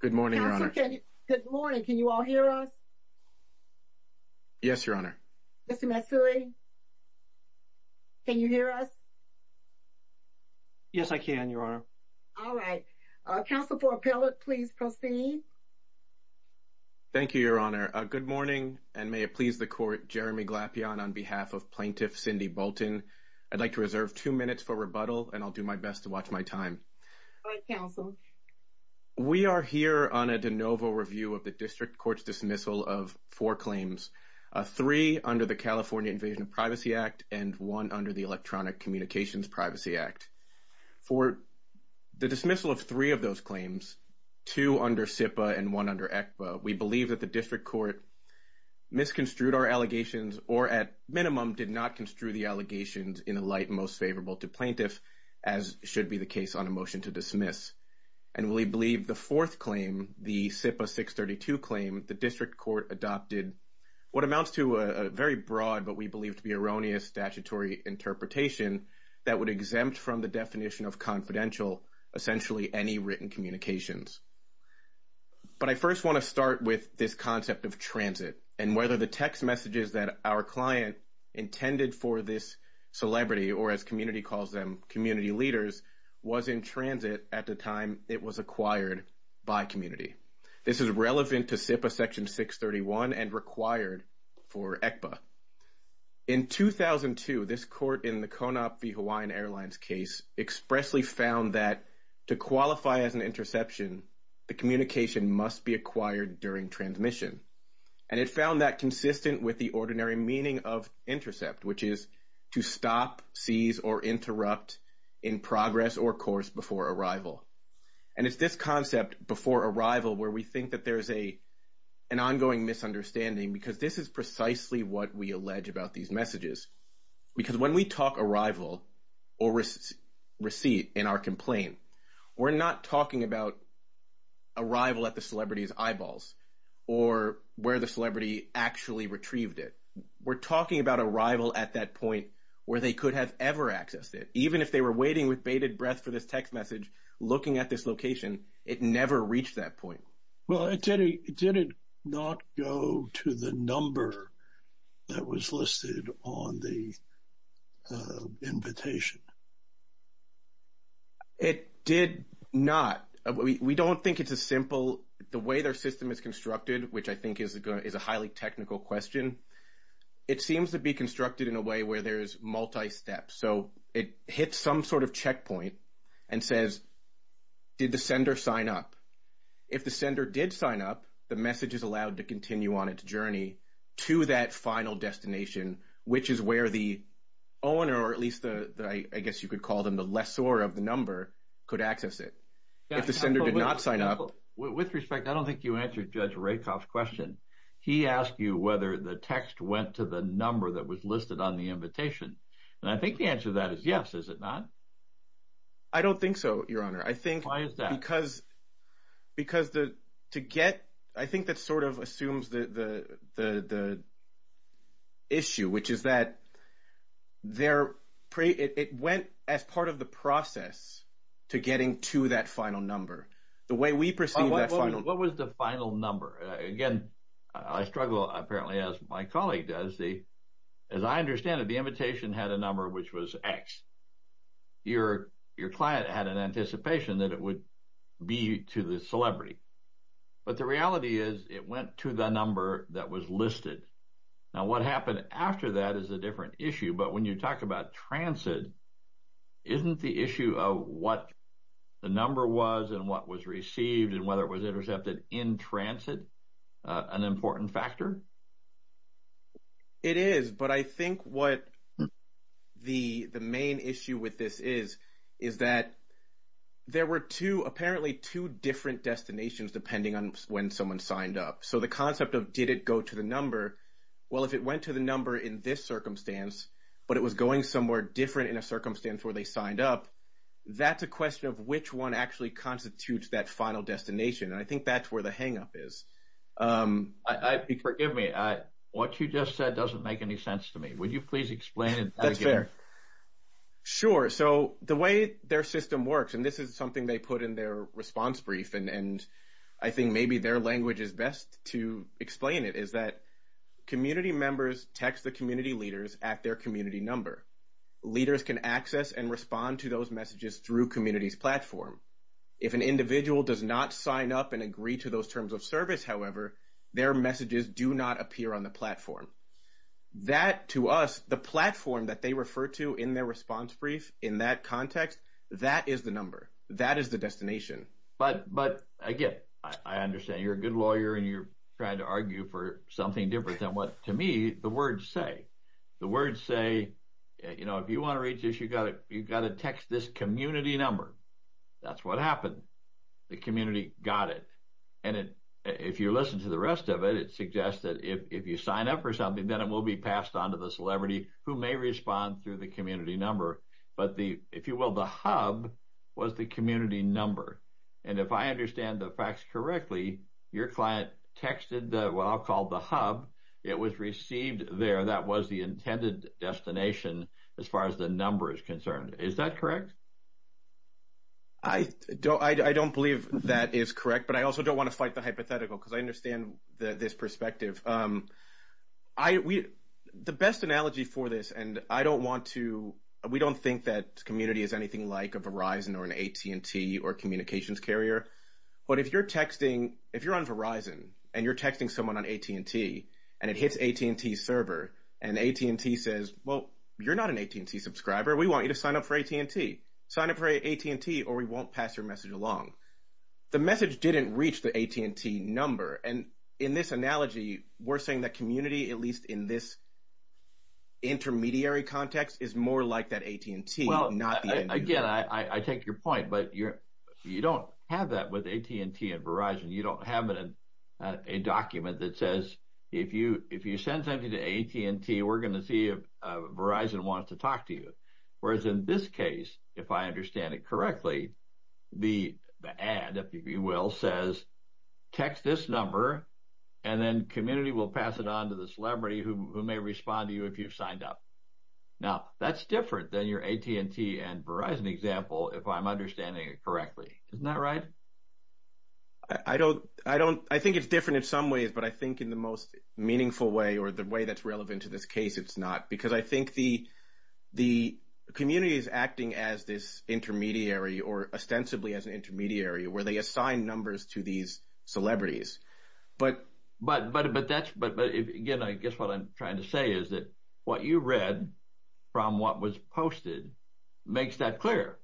Good morning, Your Honor. Good morning. Can you all hear us? Yes, Your Honor. Mr. Matsui, can you hear us? Yes, I can, Your Honor. All right. Counsel for Appellate, please proceed. Thank you, Your Honor. Good morning, and may it please the Court, Jeremy Glapion, on behalf of Plaintiff Cindy Boulton, I'd like to reserve two minutes for rebuttal, and I'll do my best to watch my time. All right, Counsel. We are here on a de novo review of the District Court's dismissal of four claims, three under the California Invasion of Privacy Act and one under the Electronic Communications Privacy Act. For the dismissal of three of those claims, two under SIPA and one under ECPA, we believe that the District Court misconstrued our allegations or, at minimum, did not construe the allegations in the light most favorable to plaintiffs, as should be the case on a motion to dismiss. And we believe the fourth claim, the SIPA 632 claim, the District Court adopted what amounts to a very broad but we believe to be erroneous statutory interpretation that would exempt from the definition of confidential, essentially any written communications. But I first want to start with this concept of transit and whether the text messages that our client intended for this celebrity or, as community calls them, community leaders, was in transit at the time it was acquired by community. This is relevant to SIPA Section 631 and required for ECPA. In 2002, this court in the Konop v. Hawaiian Airlines case expressly found that to qualify as an interception, the communication must be acquired during transmission. And it found that consistent with the ordinary meaning of intercept, which is to stop, seize, or interrupt in progress or course before arrival. And it's this concept, before arrival, where we think that there is an ongoing misunderstanding because this is precisely what we allege about these messages. Because when we talk arrival or receipt in our complaint, we're not talking about arrival at the celebrity's eyeballs or where the celebrity actually retrieved it. We're talking about arrival at that point where they could have ever accessed it. Even if they were waiting with bated breath for this text message, looking at this location, it never reached that point. Well, did it not go to the number that was listed on the invitation? It did not. We don't think it's as simple. The way their system is constructed, which I think is a highly technical question, it seems to be constructed in a way where there is multi-step. So, it hits some sort of checkpoint and says, did the sender sign up? If the sender did sign up, the message is allowed to continue on its journey to that final destination, which is where the owner, or at least I guess you could call them the lessor of the number, could access it. If the sender did not sign up... With respect, I don't think you answered Judge Rakoff's question. He asked you whether the text went to the number that was listed on the invitation. And I think the answer to that is yes, is it not? I don't think so, Your Honor. Why is that? Because to get... I think that sort of assumes the issue, which is that it went as part of the process to getting to that final number. The way we perceive that final number... What was the final number? Again, I struggle, apparently, as my colleague does. As I understand it, the invitation had a number which was X. Your client had an anticipation that it would be to the celebrity. But the reality is it went to the number that was listed. Now, what happened after that is a different issue. But when you talk about transit, isn't the issue of what the number was and what was received and whether it was intercepted in transit an important factor? It is. But I think what the main issue with this is is that there were two, apparently two different destinations depending on when someone signed up. So the concept of did it go to the number, well, if it went to the number in this circumstance, but it was going somewhere different in a circumstance where they signed up, that's a question of which one actually constitutes that final destination. And I think that's where the hangup is. Forgive me. What you just said doesn't make any sense to me. Would you please explain it again? Sure. So the way their system works, and this is something they put in their response brief, and I think maybe their language is best to explain it, is that community members text the community leaders at their community number. Leaders can access and respond to those messages through community's platform. If an individual does not sign up and agree to those terms of service, however, their messages do not appear on the platform. That, to us, the platform that they refer to in their response brief in that context, that is the number. That is the destination. But, again, I understand. You're a good lawyer and you're trying to argue for something different than what, to me, the words say. The words say, you know, if you want to reach this, you've got to text this community number. That's what happened. The community got it. And if you listen to the rest of it, it suggests that if you sign up for something, then it will be passed on to the celebrity who may respond through the community number. But the, if you will, the hub was the community number. And if I understand the facts correctly, your client texted what I'll call the hub. It was received there. That was the intended destination as far as the number is concerned. Is that correct? I don't believe that is correct. But I also don't want to fight the hypothetical because I understand this perspective. The best analogy for this, and I don't want to, we don't think that community is anything like a Verizon or an AT&T or communications carrier. But if you're texting, if you're on Verizon and you're texting someone on AT&T and it hits AT&T's server and AT&T says, well, you're not an AT&T subscriber. We want you to sign up for AT&T. Sign up for AT&T or we won't pass your message along. The message didn't reach the AT&T number. And in this analogy, we're saying that community, at least in this intermediary context, is more like that AT&T, not the end user. Well, again, I take your point. But you don't have that with AT&T and Verizon. You don't have a document that says if you send something to AT&T, we're going to see if Verizon wants to talk to you. Whereas in this case, if I understand it correctly, the ad, if you will, says text this number and then community will pass it on to the celebrity who may respond to you if you've signed up. Now, that's different than your AT&T and Verizon example, if I'm understanding it correctly. Isn't that right? I think it's different in some ways, but I think in the most meaningful way or the way that's relevant to this case, it's not. Because I think the community is acting as this intermediary or ostensibly as an intermediary where they assign numbers to these celebrities. But again, I guess what I'm trying to say is that what you read from what was posted makes that clear.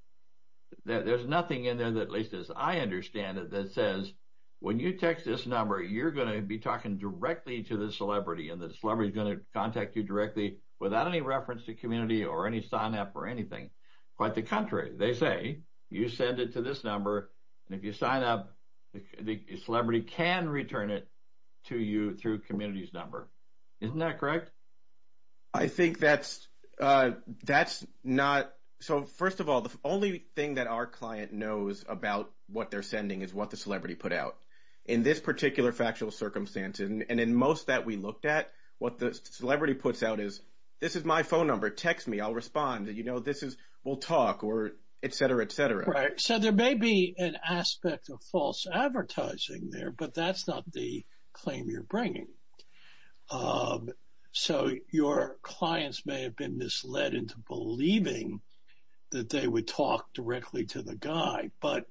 There's nothing in there, at least as I understand it, that says when you text this number, you're going to be talking directly to the celebrity and the celebrity is going to contact you directly without any reference to community or any sign-up or anything. Quite the contrary. They say you send it to this number, and if you sign up, the celebrity can return it to you through community's number. Isn't that correct? I think that's not. So first of all, the only thing that our client knows about what they're sending is what the celebrity put out. In this particular factual circumstance, and in most that we looked at, what the celebrity puts out is, this is my phone number. Text me. I'll respond. We'll talk, or et cetera, et cetera. Right. So there may be an aspect of false advertising there, but that's not the claim you're bringing. So your clients may have been misled into believing that they would talk directly to the guy, but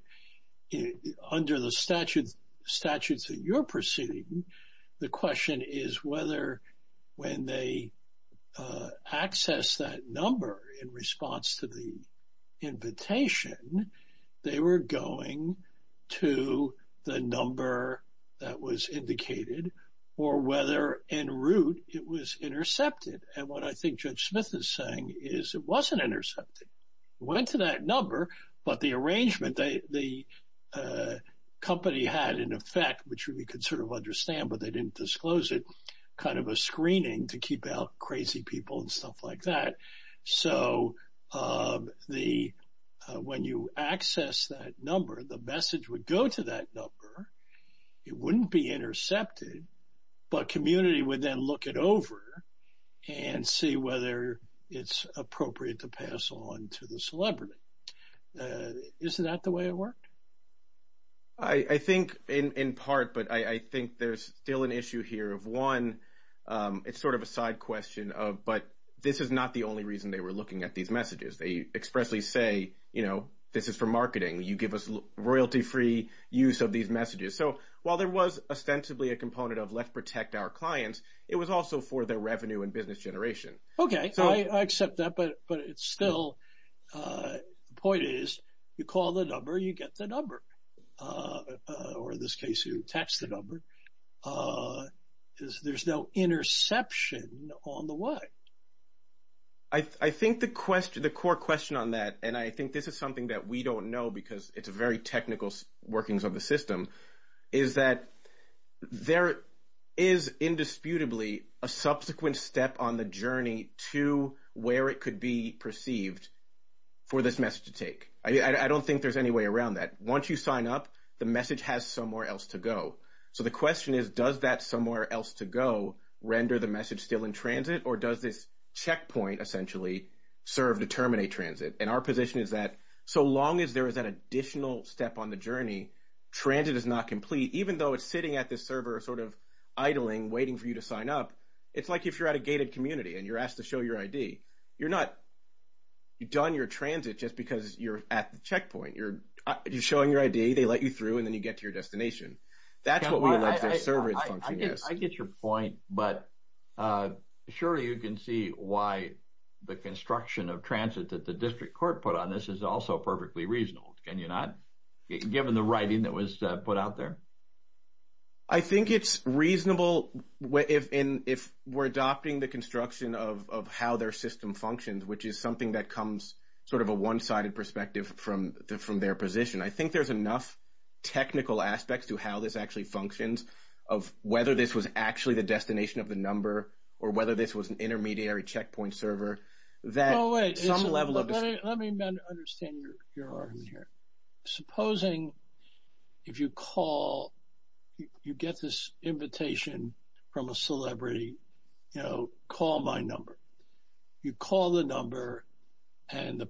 under the statutes that you're proceeding, the question is whether when they access that number in response to the invitation, they were going to the number that was indicated or whether, in root, it was intercepted. And what I think Judge Smith is saying is it wasn't intercepted. It went to that number, but the arrangement, the company had, in effect, which we could sort of understand, but they didn't disclose it, kind of a screening to keep out crazy people and stuff like that. So when you access that number, the message would go to that number. It wouldn't be intercepted, but community would then look it over and see whether it's appropriate to pass on to the celebrity. Isn't that the way it worked? I think in part, but I think there's still an issue here of, one, it's sort of a side question of, but this is not the only reason they were looking at these messages. They expressly say, you know, this is for marketing. You give us royalty-free use of these messages. So while there was ostensibly a component of let's protect our clients, it was also for their revenue and business generation. Okay, I accept that, but it's still, the point is you call the number, you get the number, or in this case you attach the number. There's no interception on the way. I think the core question on that, and I think this is something that we don't know because it's a very technical workings of the system, is that there is indisputably a subsequent step on the journey to where it could be perceived for this message to take. I don't think there's any way around that. Once you sign up, the message has somewhere else to go. So the question is, does that somewhere else to go render the message still in transit, or does this checkpoint essentially serve to terminate transit? And our position is that so long as there is an additional step on the journey, transit is not complete, even though it's sitting at this server sort of idling, waiting for you to sign up. It's like if you're at a gated community and you're asked to show your ID. You've done your transit just because you're at the checkpoint. You're showing your ID. They let you through, and then you get to your destination. That's what we would like the server to function as. I get your point, but surely you can see why the construction of transit that the district court put on this is also perfectly reasonable, can you not, given the writing that was put out there? I think it's reasonable if we're adopting the construction of how their system functions, which is something that comes sort of a one-sided perspective from their position. I think there's enough technical aspects to how this actually functions, of whether this was actually the destination of the number or whether this was an intermediary checkpoint server. Oh, wait. Let me understand your argument here. Supposing if you call, you get this invitation from a celebrity, you know, call my number. You call the number, and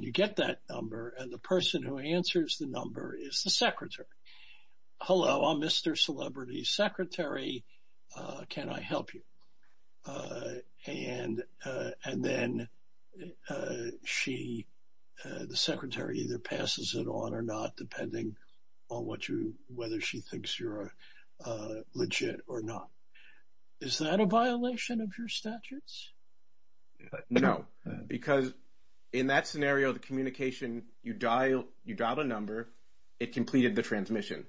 you get that number, and the person who answers the number is the secretary. Hello, I'm Mr. Celebrity's secretary. Can I help you? And then the secretary either passes it on or not, depending on whether she thinks you're legit or not. Is that a violation of your statutes? No, because in that scenario, the communication, you dial a number. It completed the transmission.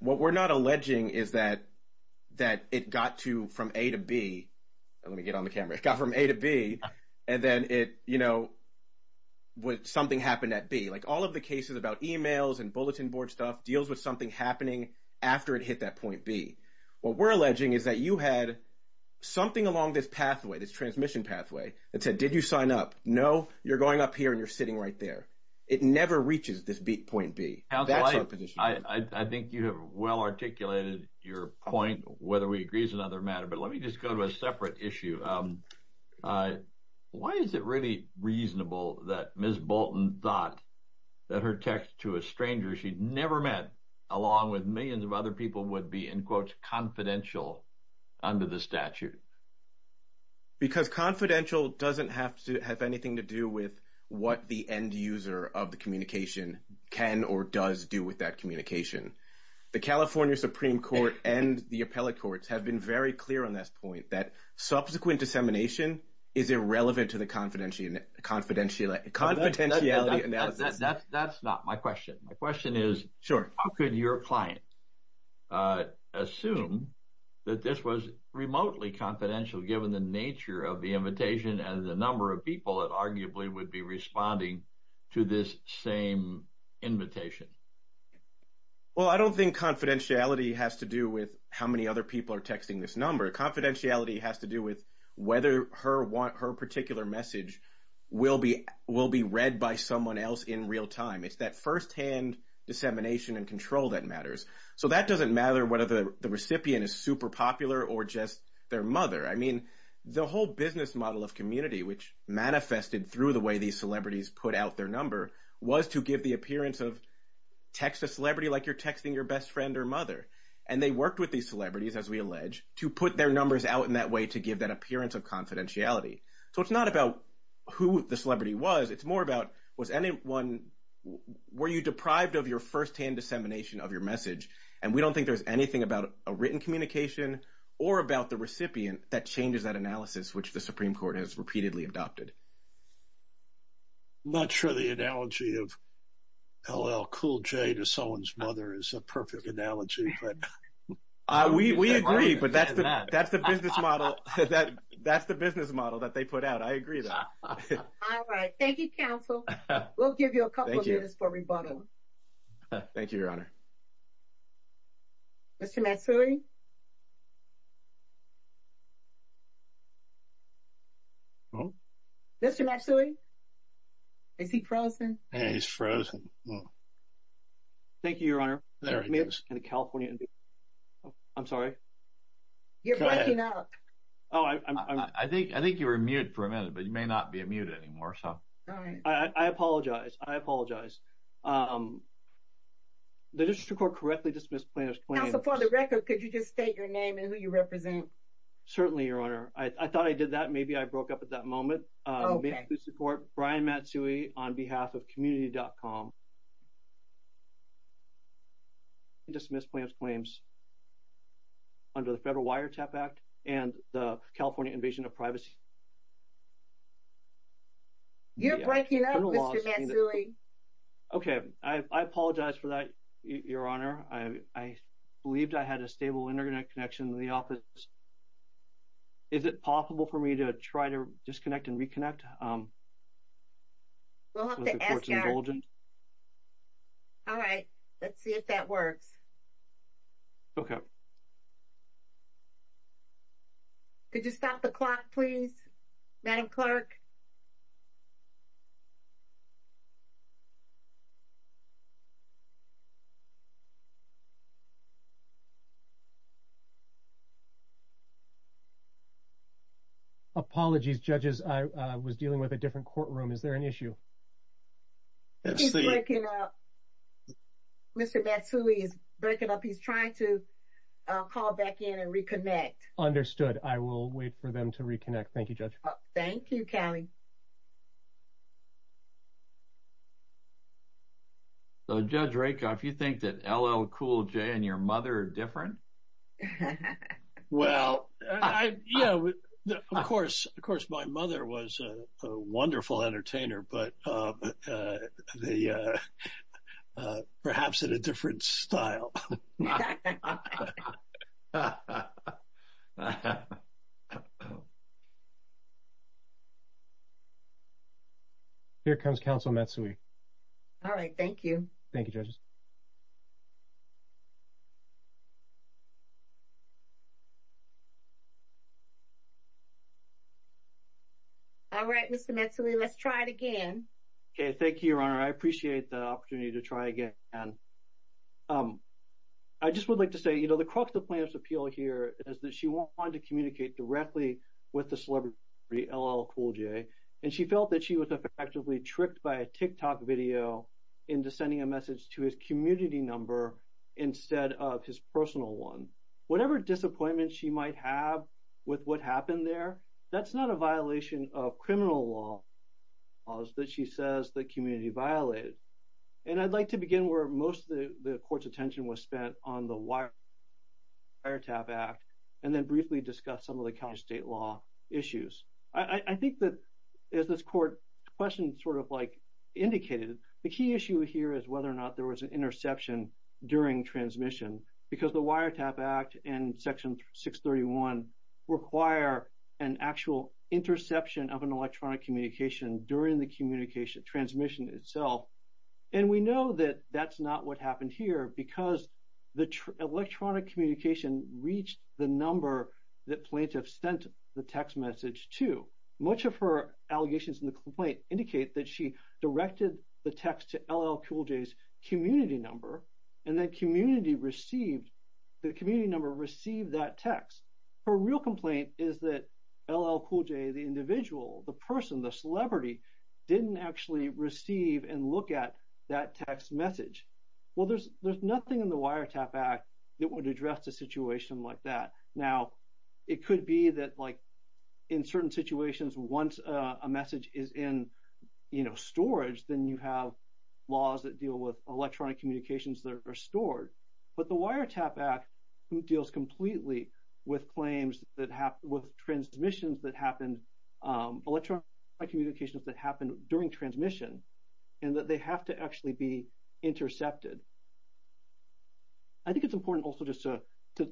What we're not alleging is that it got to from A to B. Let me get on the camera. It got from A to B, and then it, you know, something happened at B. Like all of the cases about emails and bulletin board stuff deals with something happening after it hit that point B. What we're alleging is that you had something along this pathway, this transmission pathway, that said, did you sign up? No, you're going up here, and you're sitting right there. It never reaches this point B. That's our position. I think you have well articulated your point, whether we agree is another matter, but let me just go to a separate issue. Why is it really reasonable that Ms. Bolton thought that her text to a stranger she'd never met, along with millions of other people, would be in quotes confidential under the statute? Because confidential doesn't have to have anything to do with what the end user of the communication can or does do with that communication. The California Supreme Court and the appellate courts have been very clear on this point that subsequent dissemination is irrelevant to the confidentiality analysis. That's not my question. My question is how could your client assume that this was remotely confidential given the nature of the invitation and the number of people that arguably would be responding to this same invitation? Well, I don't think confidentiality has to do with how many other people are texting this number. Confidentiality has to do with whether her particular message will be read by someone else in real time. It's that firsthand dissemination and control that matters. So that doesn't matter whether the recipient is super popular or just their mother. I mean, the whole business model of community, which manifested through the way these celebrities put out their number, was to give the appearance of text a celebrity like you're texting your best friend or mother, and they worked with these celebrities, as we allege, to put their numbers out in that way to give that appearance of confidentiality. So it's not about who the celebrity was. It's more about was anyone – were you deprived of your firsthand dissemination of your message? And we don't think there's anything about a written communication or about the recipient that changes that analysis, which the Supreme Court has repeatedly adopted. I'm not sure the analogy of LL Cool J to someone's mother is a perfect analogy. We agree, but that's the business model that they put out. I agree with that. All right. Thank you, counsel. We'll give you a couple minutes for rebuttal. Thank you, Your Honor. Mr. Matsui? Mr. Matsui? Is he frozen? Yeah, he's frozen. Thank you, Your Honor. There he is. I'm sorry. Go ahead. You're breaking up. I think you were mute for a minute, but you may not be a mute anymore. I apologize. I apologize. The district court correctly dismissed plaintiff's claims. Counsel, for the record, could you just state your name and who you represent? Certainly, Your Honor. I thought I did that. Maybe I broke up at that moment. We support Brian Matsui on behalf of community.com. He dismissed plaintiff's claims under the Federal Wiretap Act and the California Invasion of Privacy. You're breaking up, Mr. Matsui. Okay. I apologize for that, Your Honor. I believed I had a stable internet connection in the office. Is it possible for me to try to disconnect and reconnect? We'll have to ask our team. All right. Let's see if that works. Okay. Could you stop the clock, please, Madam Clerk? Apologies, judges. I was dealing with a different courtroom. Is there an issue? She's breaking up. Mr. Matsui is breaking up. He's trying to call back in and reconnect. I will wait for them to reconnect. Thank you, Judge. Thank you, Kelly. So, Judge Rakoff, you think that LL Cool J and your mother are different? Well, yeah, of course my mother was a wonderful entertainer, but perhaps in a different style. Here comes Counsel Matsui. All right. Thank you. Thank you, judges. All right, Mr. Matsui. Let's try it again. Thank you, Your Honor. I appreciate the opportunity to try again. I just would like to say, you know, the crux of the plaintiff's appeal here is that she wanted to communicate directly with the celebrity, LL Cool J, and she felt that she was effectively tricked by a TikTok video into sending a message to his community number instead of his personal one. Whatever disappointment she might have with what happened there, that's not a violation of criminal law that she says the community violated. And I'd like to begin where most of the court's attention was spent on the wiretap act, and then briefly discuss some of the county state law issues. I think that as this court question sort of like indicated, the key issue here is whether or not there was an interception during transmission, because the wiretap act and section 631 require an actual interception of an electronic communication during the communication transmission itself. And we know that that's not what happened here because the electronic communication reached the number that plaintiff sent the text message to. Much of her allegations in the complaint indicate that she directed the text to LL Cool J's community number, and then the community number received that text. Her real complaint is that LL Cool J, the individual, the person, the celebrity didn't actually receive and look at that text message. Well, there's nothing in the wiretap act that would address a situation like that. Now, it could be that like in certain situations once a message is in, you know, storage then you have laws that deal with electronic communications that are stored. But the wiretap act deals completely with claims that have, with transmissions that happened, electronic communications that happened during transmission and that they have to actually be intercepted. I think it's important also just to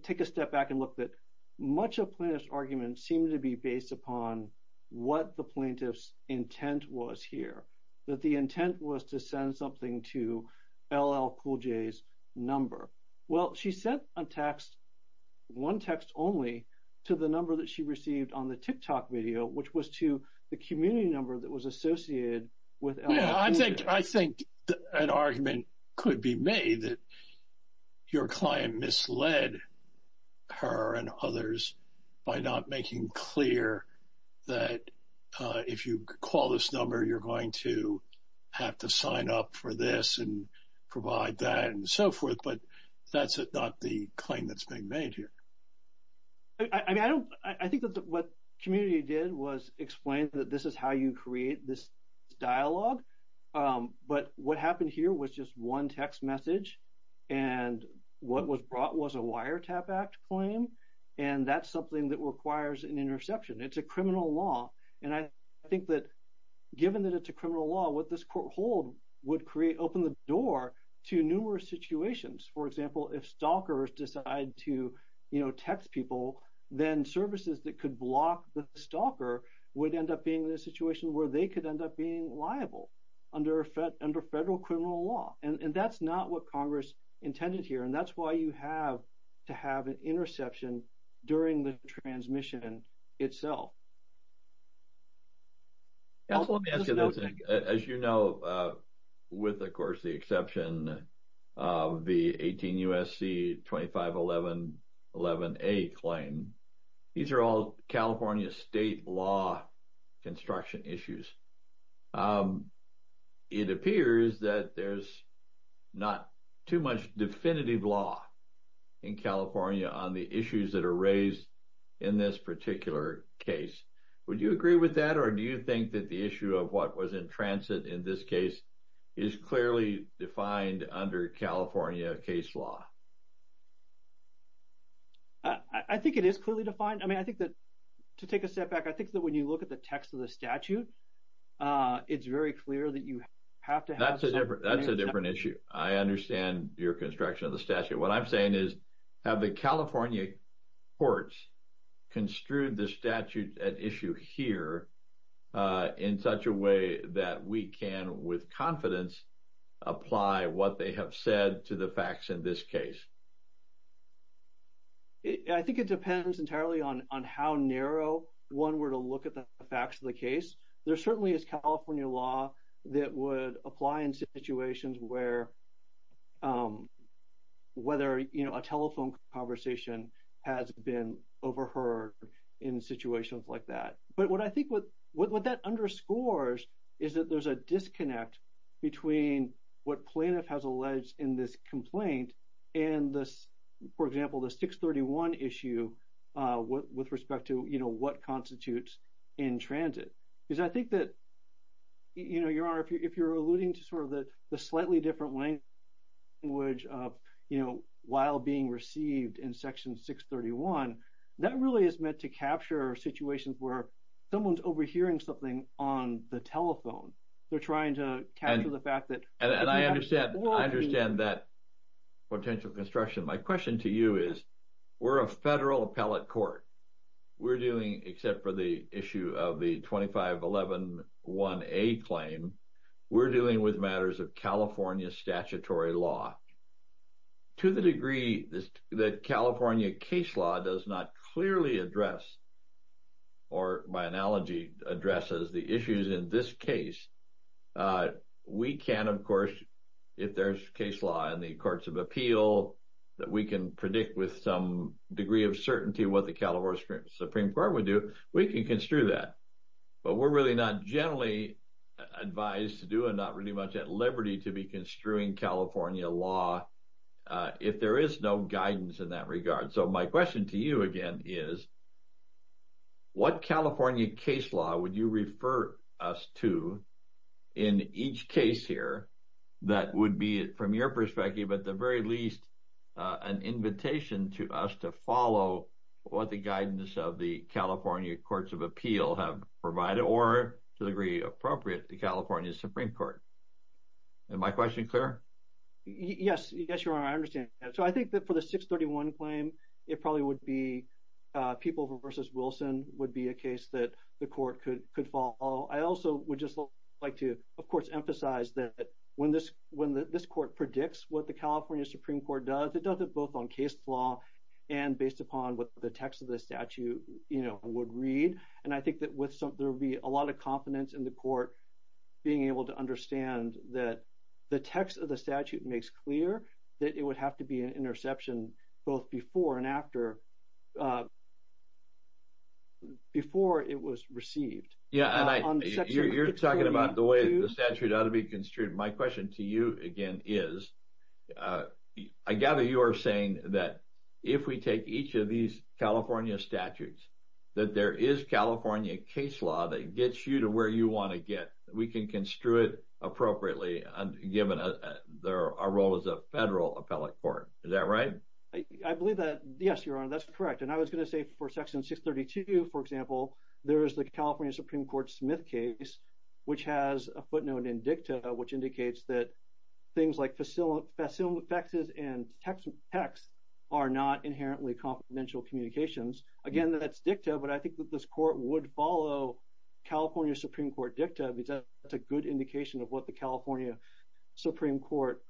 take a step back and look that much of plaintiff's arguments seem to be based upon what the plaintiff's intent was here, that the intent was to send something to LL Cool J's number. Well, she sent a text one text only to the number that she received on the TikTok video, which was to the community number that was associated with LL Cool J. I think, I think an argument could be made that your client misled her and others by not making clear that if you call this number, you're going to have to sign up for this and provide that and so forth. But that's not the claim that's being made here. I mean, I don't, I think that what community did was explain that this is how you create this dialogue. But what happened here was just one text message. And what was brought was a wiretap act claim. And that's something that requires an interception. It's a criminal law. And I think that given that it's a criminal law, what this court hold would create open the door to numerous situations. For example, if stalkers decide to text people, then services that could block the stalker would end up being in a situation where they could end up being liable under federal criminal law. And that's not what Congress intended here. And that's why you have to have an interception during the transmission itself. As you know, with the course, the exception of the 18 USC 25, 11, 11, a claim. These are all California state law construction issues. It appears that there's not too much definitive law in California on the issues that are raised in this particular case. Would you agree with that? Or do you think that the issue of what was in transit in this case is clearly defined under California case law? I think it is clearly defined. I mean, I think that to take a step back, I think that when you look at the text of the statute, it's very clear that you have to have. That's a different, that's a different issue. I understand your construction of the statute. What I'm saying is have the California courts construed the statute at issue here in such a way that we can with confidence apply what they have said to the facts in this case. I think it depends entirely on how narrow one were to look at the facts of the case. There certainly is California law that would apply in situations where whether a telephone conversation has been overheard in situations like that. But what I think what that underscores is that there's a disconnect between what plaintiff has alleged in this complaint and this, for example, the 631 issue with respect to, you know, what constitutes in transit is I think that, you know, your honor, if you're alluding to sort of the slightly different language of, you know, while being received in section 631, that really is meant to capture situations where someone's overhearing something on the telephone. They're trying to capture the fact that. And I understand. I understand that potential construction. My question to you is we're a federal appellate court. We're doing except for the issue of the 25111A claim. We're dealing with matters of California statutory law to the degree that California case law does not clearly address or by analogy addresses the case. We can, of course, if there's case law in the courts of appeal that we can predict with some degree of certainty what the California Supreme Court would do, we can construe that, but we're really not generally advised to do and not really much at liberty to be construing California law if there is no guidance in that regard. So my question to you again is what California case law would you refer us to in each case here that would be, from your perspective, at the very least an invitation to us to follow what the guidance of the California courts of appeal have provided or to the degree appropriate, the California Supreme Court. And my question is clear. Yes. Yes, you are. I understand. So I think that for the 631 claim, it probably would be a people versus Wilson would be a case that the court could, could follow. I also would just like to, of course, emphasize that when this, when this court predicts what the California Supreme Court does, it does it both on case law and based upon what the text of the statute, you know, would read. And I think that with some, there'll be a lot of confidence in the court being able to understand that the text of the statute makes clear that it would have to be an interception both before and after, before it was received. Yeah. You're talking about the way the statute ought to be construed. My question to you again is I gather you are saying that if we take each of these California statutes, that there is California case law that gets you to where you want to get, we can construe it appropriately. And given our role as a federal appellate court, is that right? I believe that. Yes, Your Honor, that's correct. And I was going to say for section six 32, for example, there is the California Supreme Court Smith case, which has a footnote in dicta, which indicates that things like facilities, facilities and texts are not inherently confidential communications. Again, that's dicta. But I think that this court would follow California Supreme Court dicta. It's a, it's a good indication of what the California Supreme Court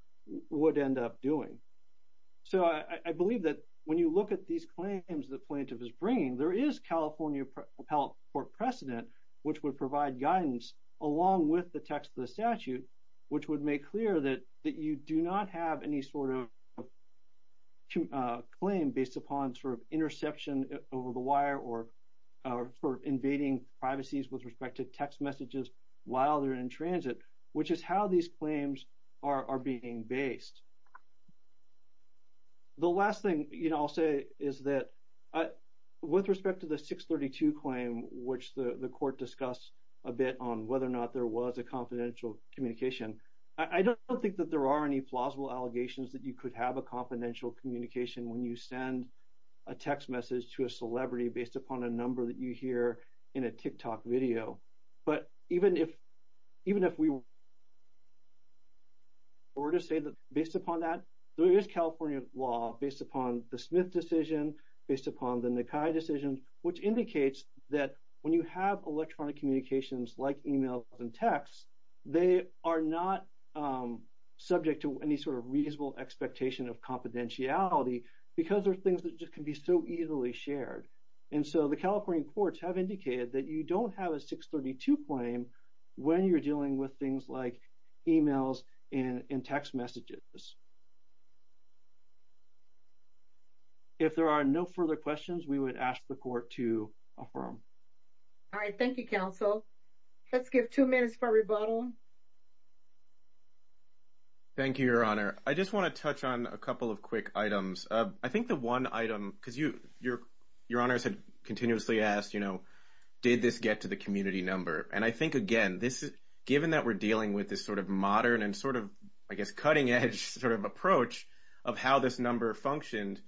would end up doing. So I, I believe that when you look at these claims that plaintiff is bringing, there is California appellate court precedent, which would provide guidance along with the text of the statute, which would make clear that, that you do not have any sort of claim based upon sort of interception over the wire or, or for invading privacies with respect to text messages while they're in transit, which is how these claims are, are being based. The last thing, you know, I'll say is that with respect to the six 32 claim, which the court discussed a bit on whether or not there was a confidential communication. I don't think that there are any plausible allegations that you could have a confidential communication when you send a text message to a celebrity based upon a number that you hear in a tick tock video. But even if, even if we were to say that based upon that, there is California law based upon the Smith decision, based upon the Nikai decision, which indicates that when you have electronic communications like emails and texts, they are not subject to any sort of reasonable expectation of confidentiality because there are things that just can be so easily shared. And so the California courts have indicated that you don't have a six 32 claim when you're dealing with things like emails and text messages. If there are no further questions, we would ask the court to affirm. All right. Thank you, counsel. Let's give two minutes for rebuttal. Thank you, your honor. I just want to touch on a couple of quick items. I think the one item, cause you, your, your honors had continuously asked, you know, did this get to the community number? And I think again, this is given that we're dealing with this sort of modern and sort of, cutting edge sort of approach of how this number functioned.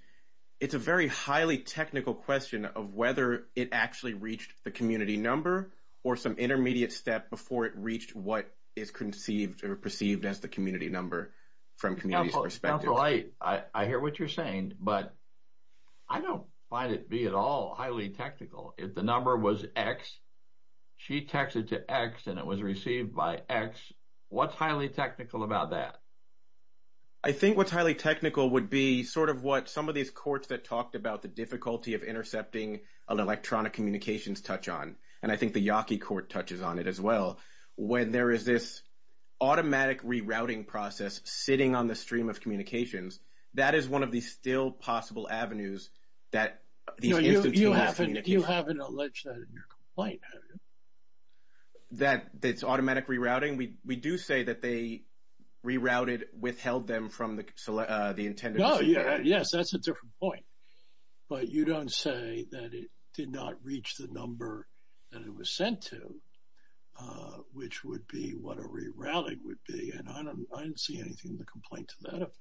It's a very highly technical question of whether it actually reached the community number or some intermediate step before it reached what is conceived or perceived as the community number from community perspective. I hear what you're saying, but I don't find it be at all highly technical. If the number was X, she texted to X and it was received by X. What's highly technical about that? I think what's highly technical would be sort of what some of these courts that talked about the difficulty of intercepting electronic communications touch on. And I think the Yaki court touches on it as well. When there is this automatic rerouting process sitting on the stream of possible avenues that you haven't, you haven't alleged that in your complaint, that it's automatic rerouting. We, we do say that they rerouted withheld them from the intended. Yes, that's a different point, but you don't say that it did not reach the number that it was sent to, which would be what a rerouting would be. And I don't, I didn't see anything in the complaint to that effect.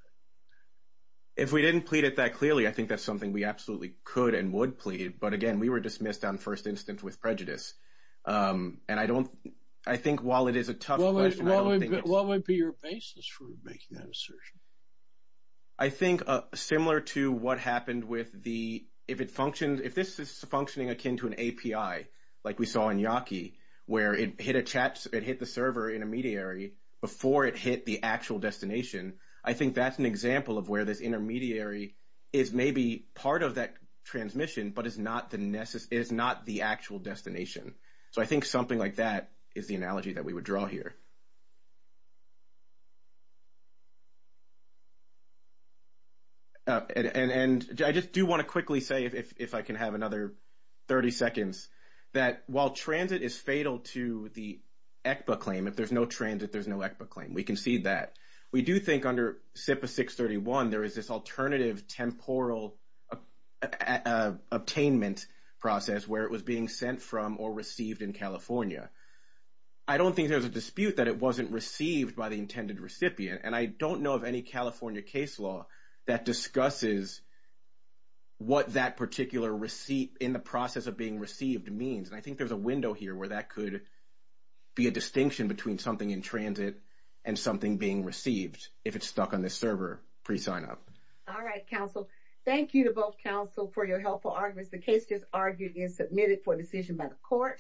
If we didn't plead it that clearly, I think that's something we absolutely could and would plead. But again, we were dismissed on first instance with prejudice. And I don't, I think while it is a tough question, what would be your basis for making that assertion? I think similar to what happened with the, if it functions, if this is functioning akin to an API, like we saw in Yaki where it hit a chat, it hit the server intermediary before it hit the actual destination. I think that's an example of where this intermediary is maybe part of that transmission, but it's not the Nessus is not the actual destination. So I think something like that is the analogy that we would draw here. And, and, and I just do want to quickly say, if, if I can have another 30 seconds that while transit is fatal to the ECBA claim, if there's no transit, there's no ECBA claim. We can see that. We do think under SIPA 631, there is this alternative temporal attainment process where it was being sent from or received in California. I don't think there's a dispute that it wasn't received by the intended recipient. And I don't know of any California case law that discusses what that particular receipt in the process of being received means. And I think there's a window here where that could be a distinction between something in transit and something being received. If it's stuck on this server, pre-sign up. All right, counsel. Thank you to both counsel for your helpful arguments. The case just argued is submitted for decision by the court.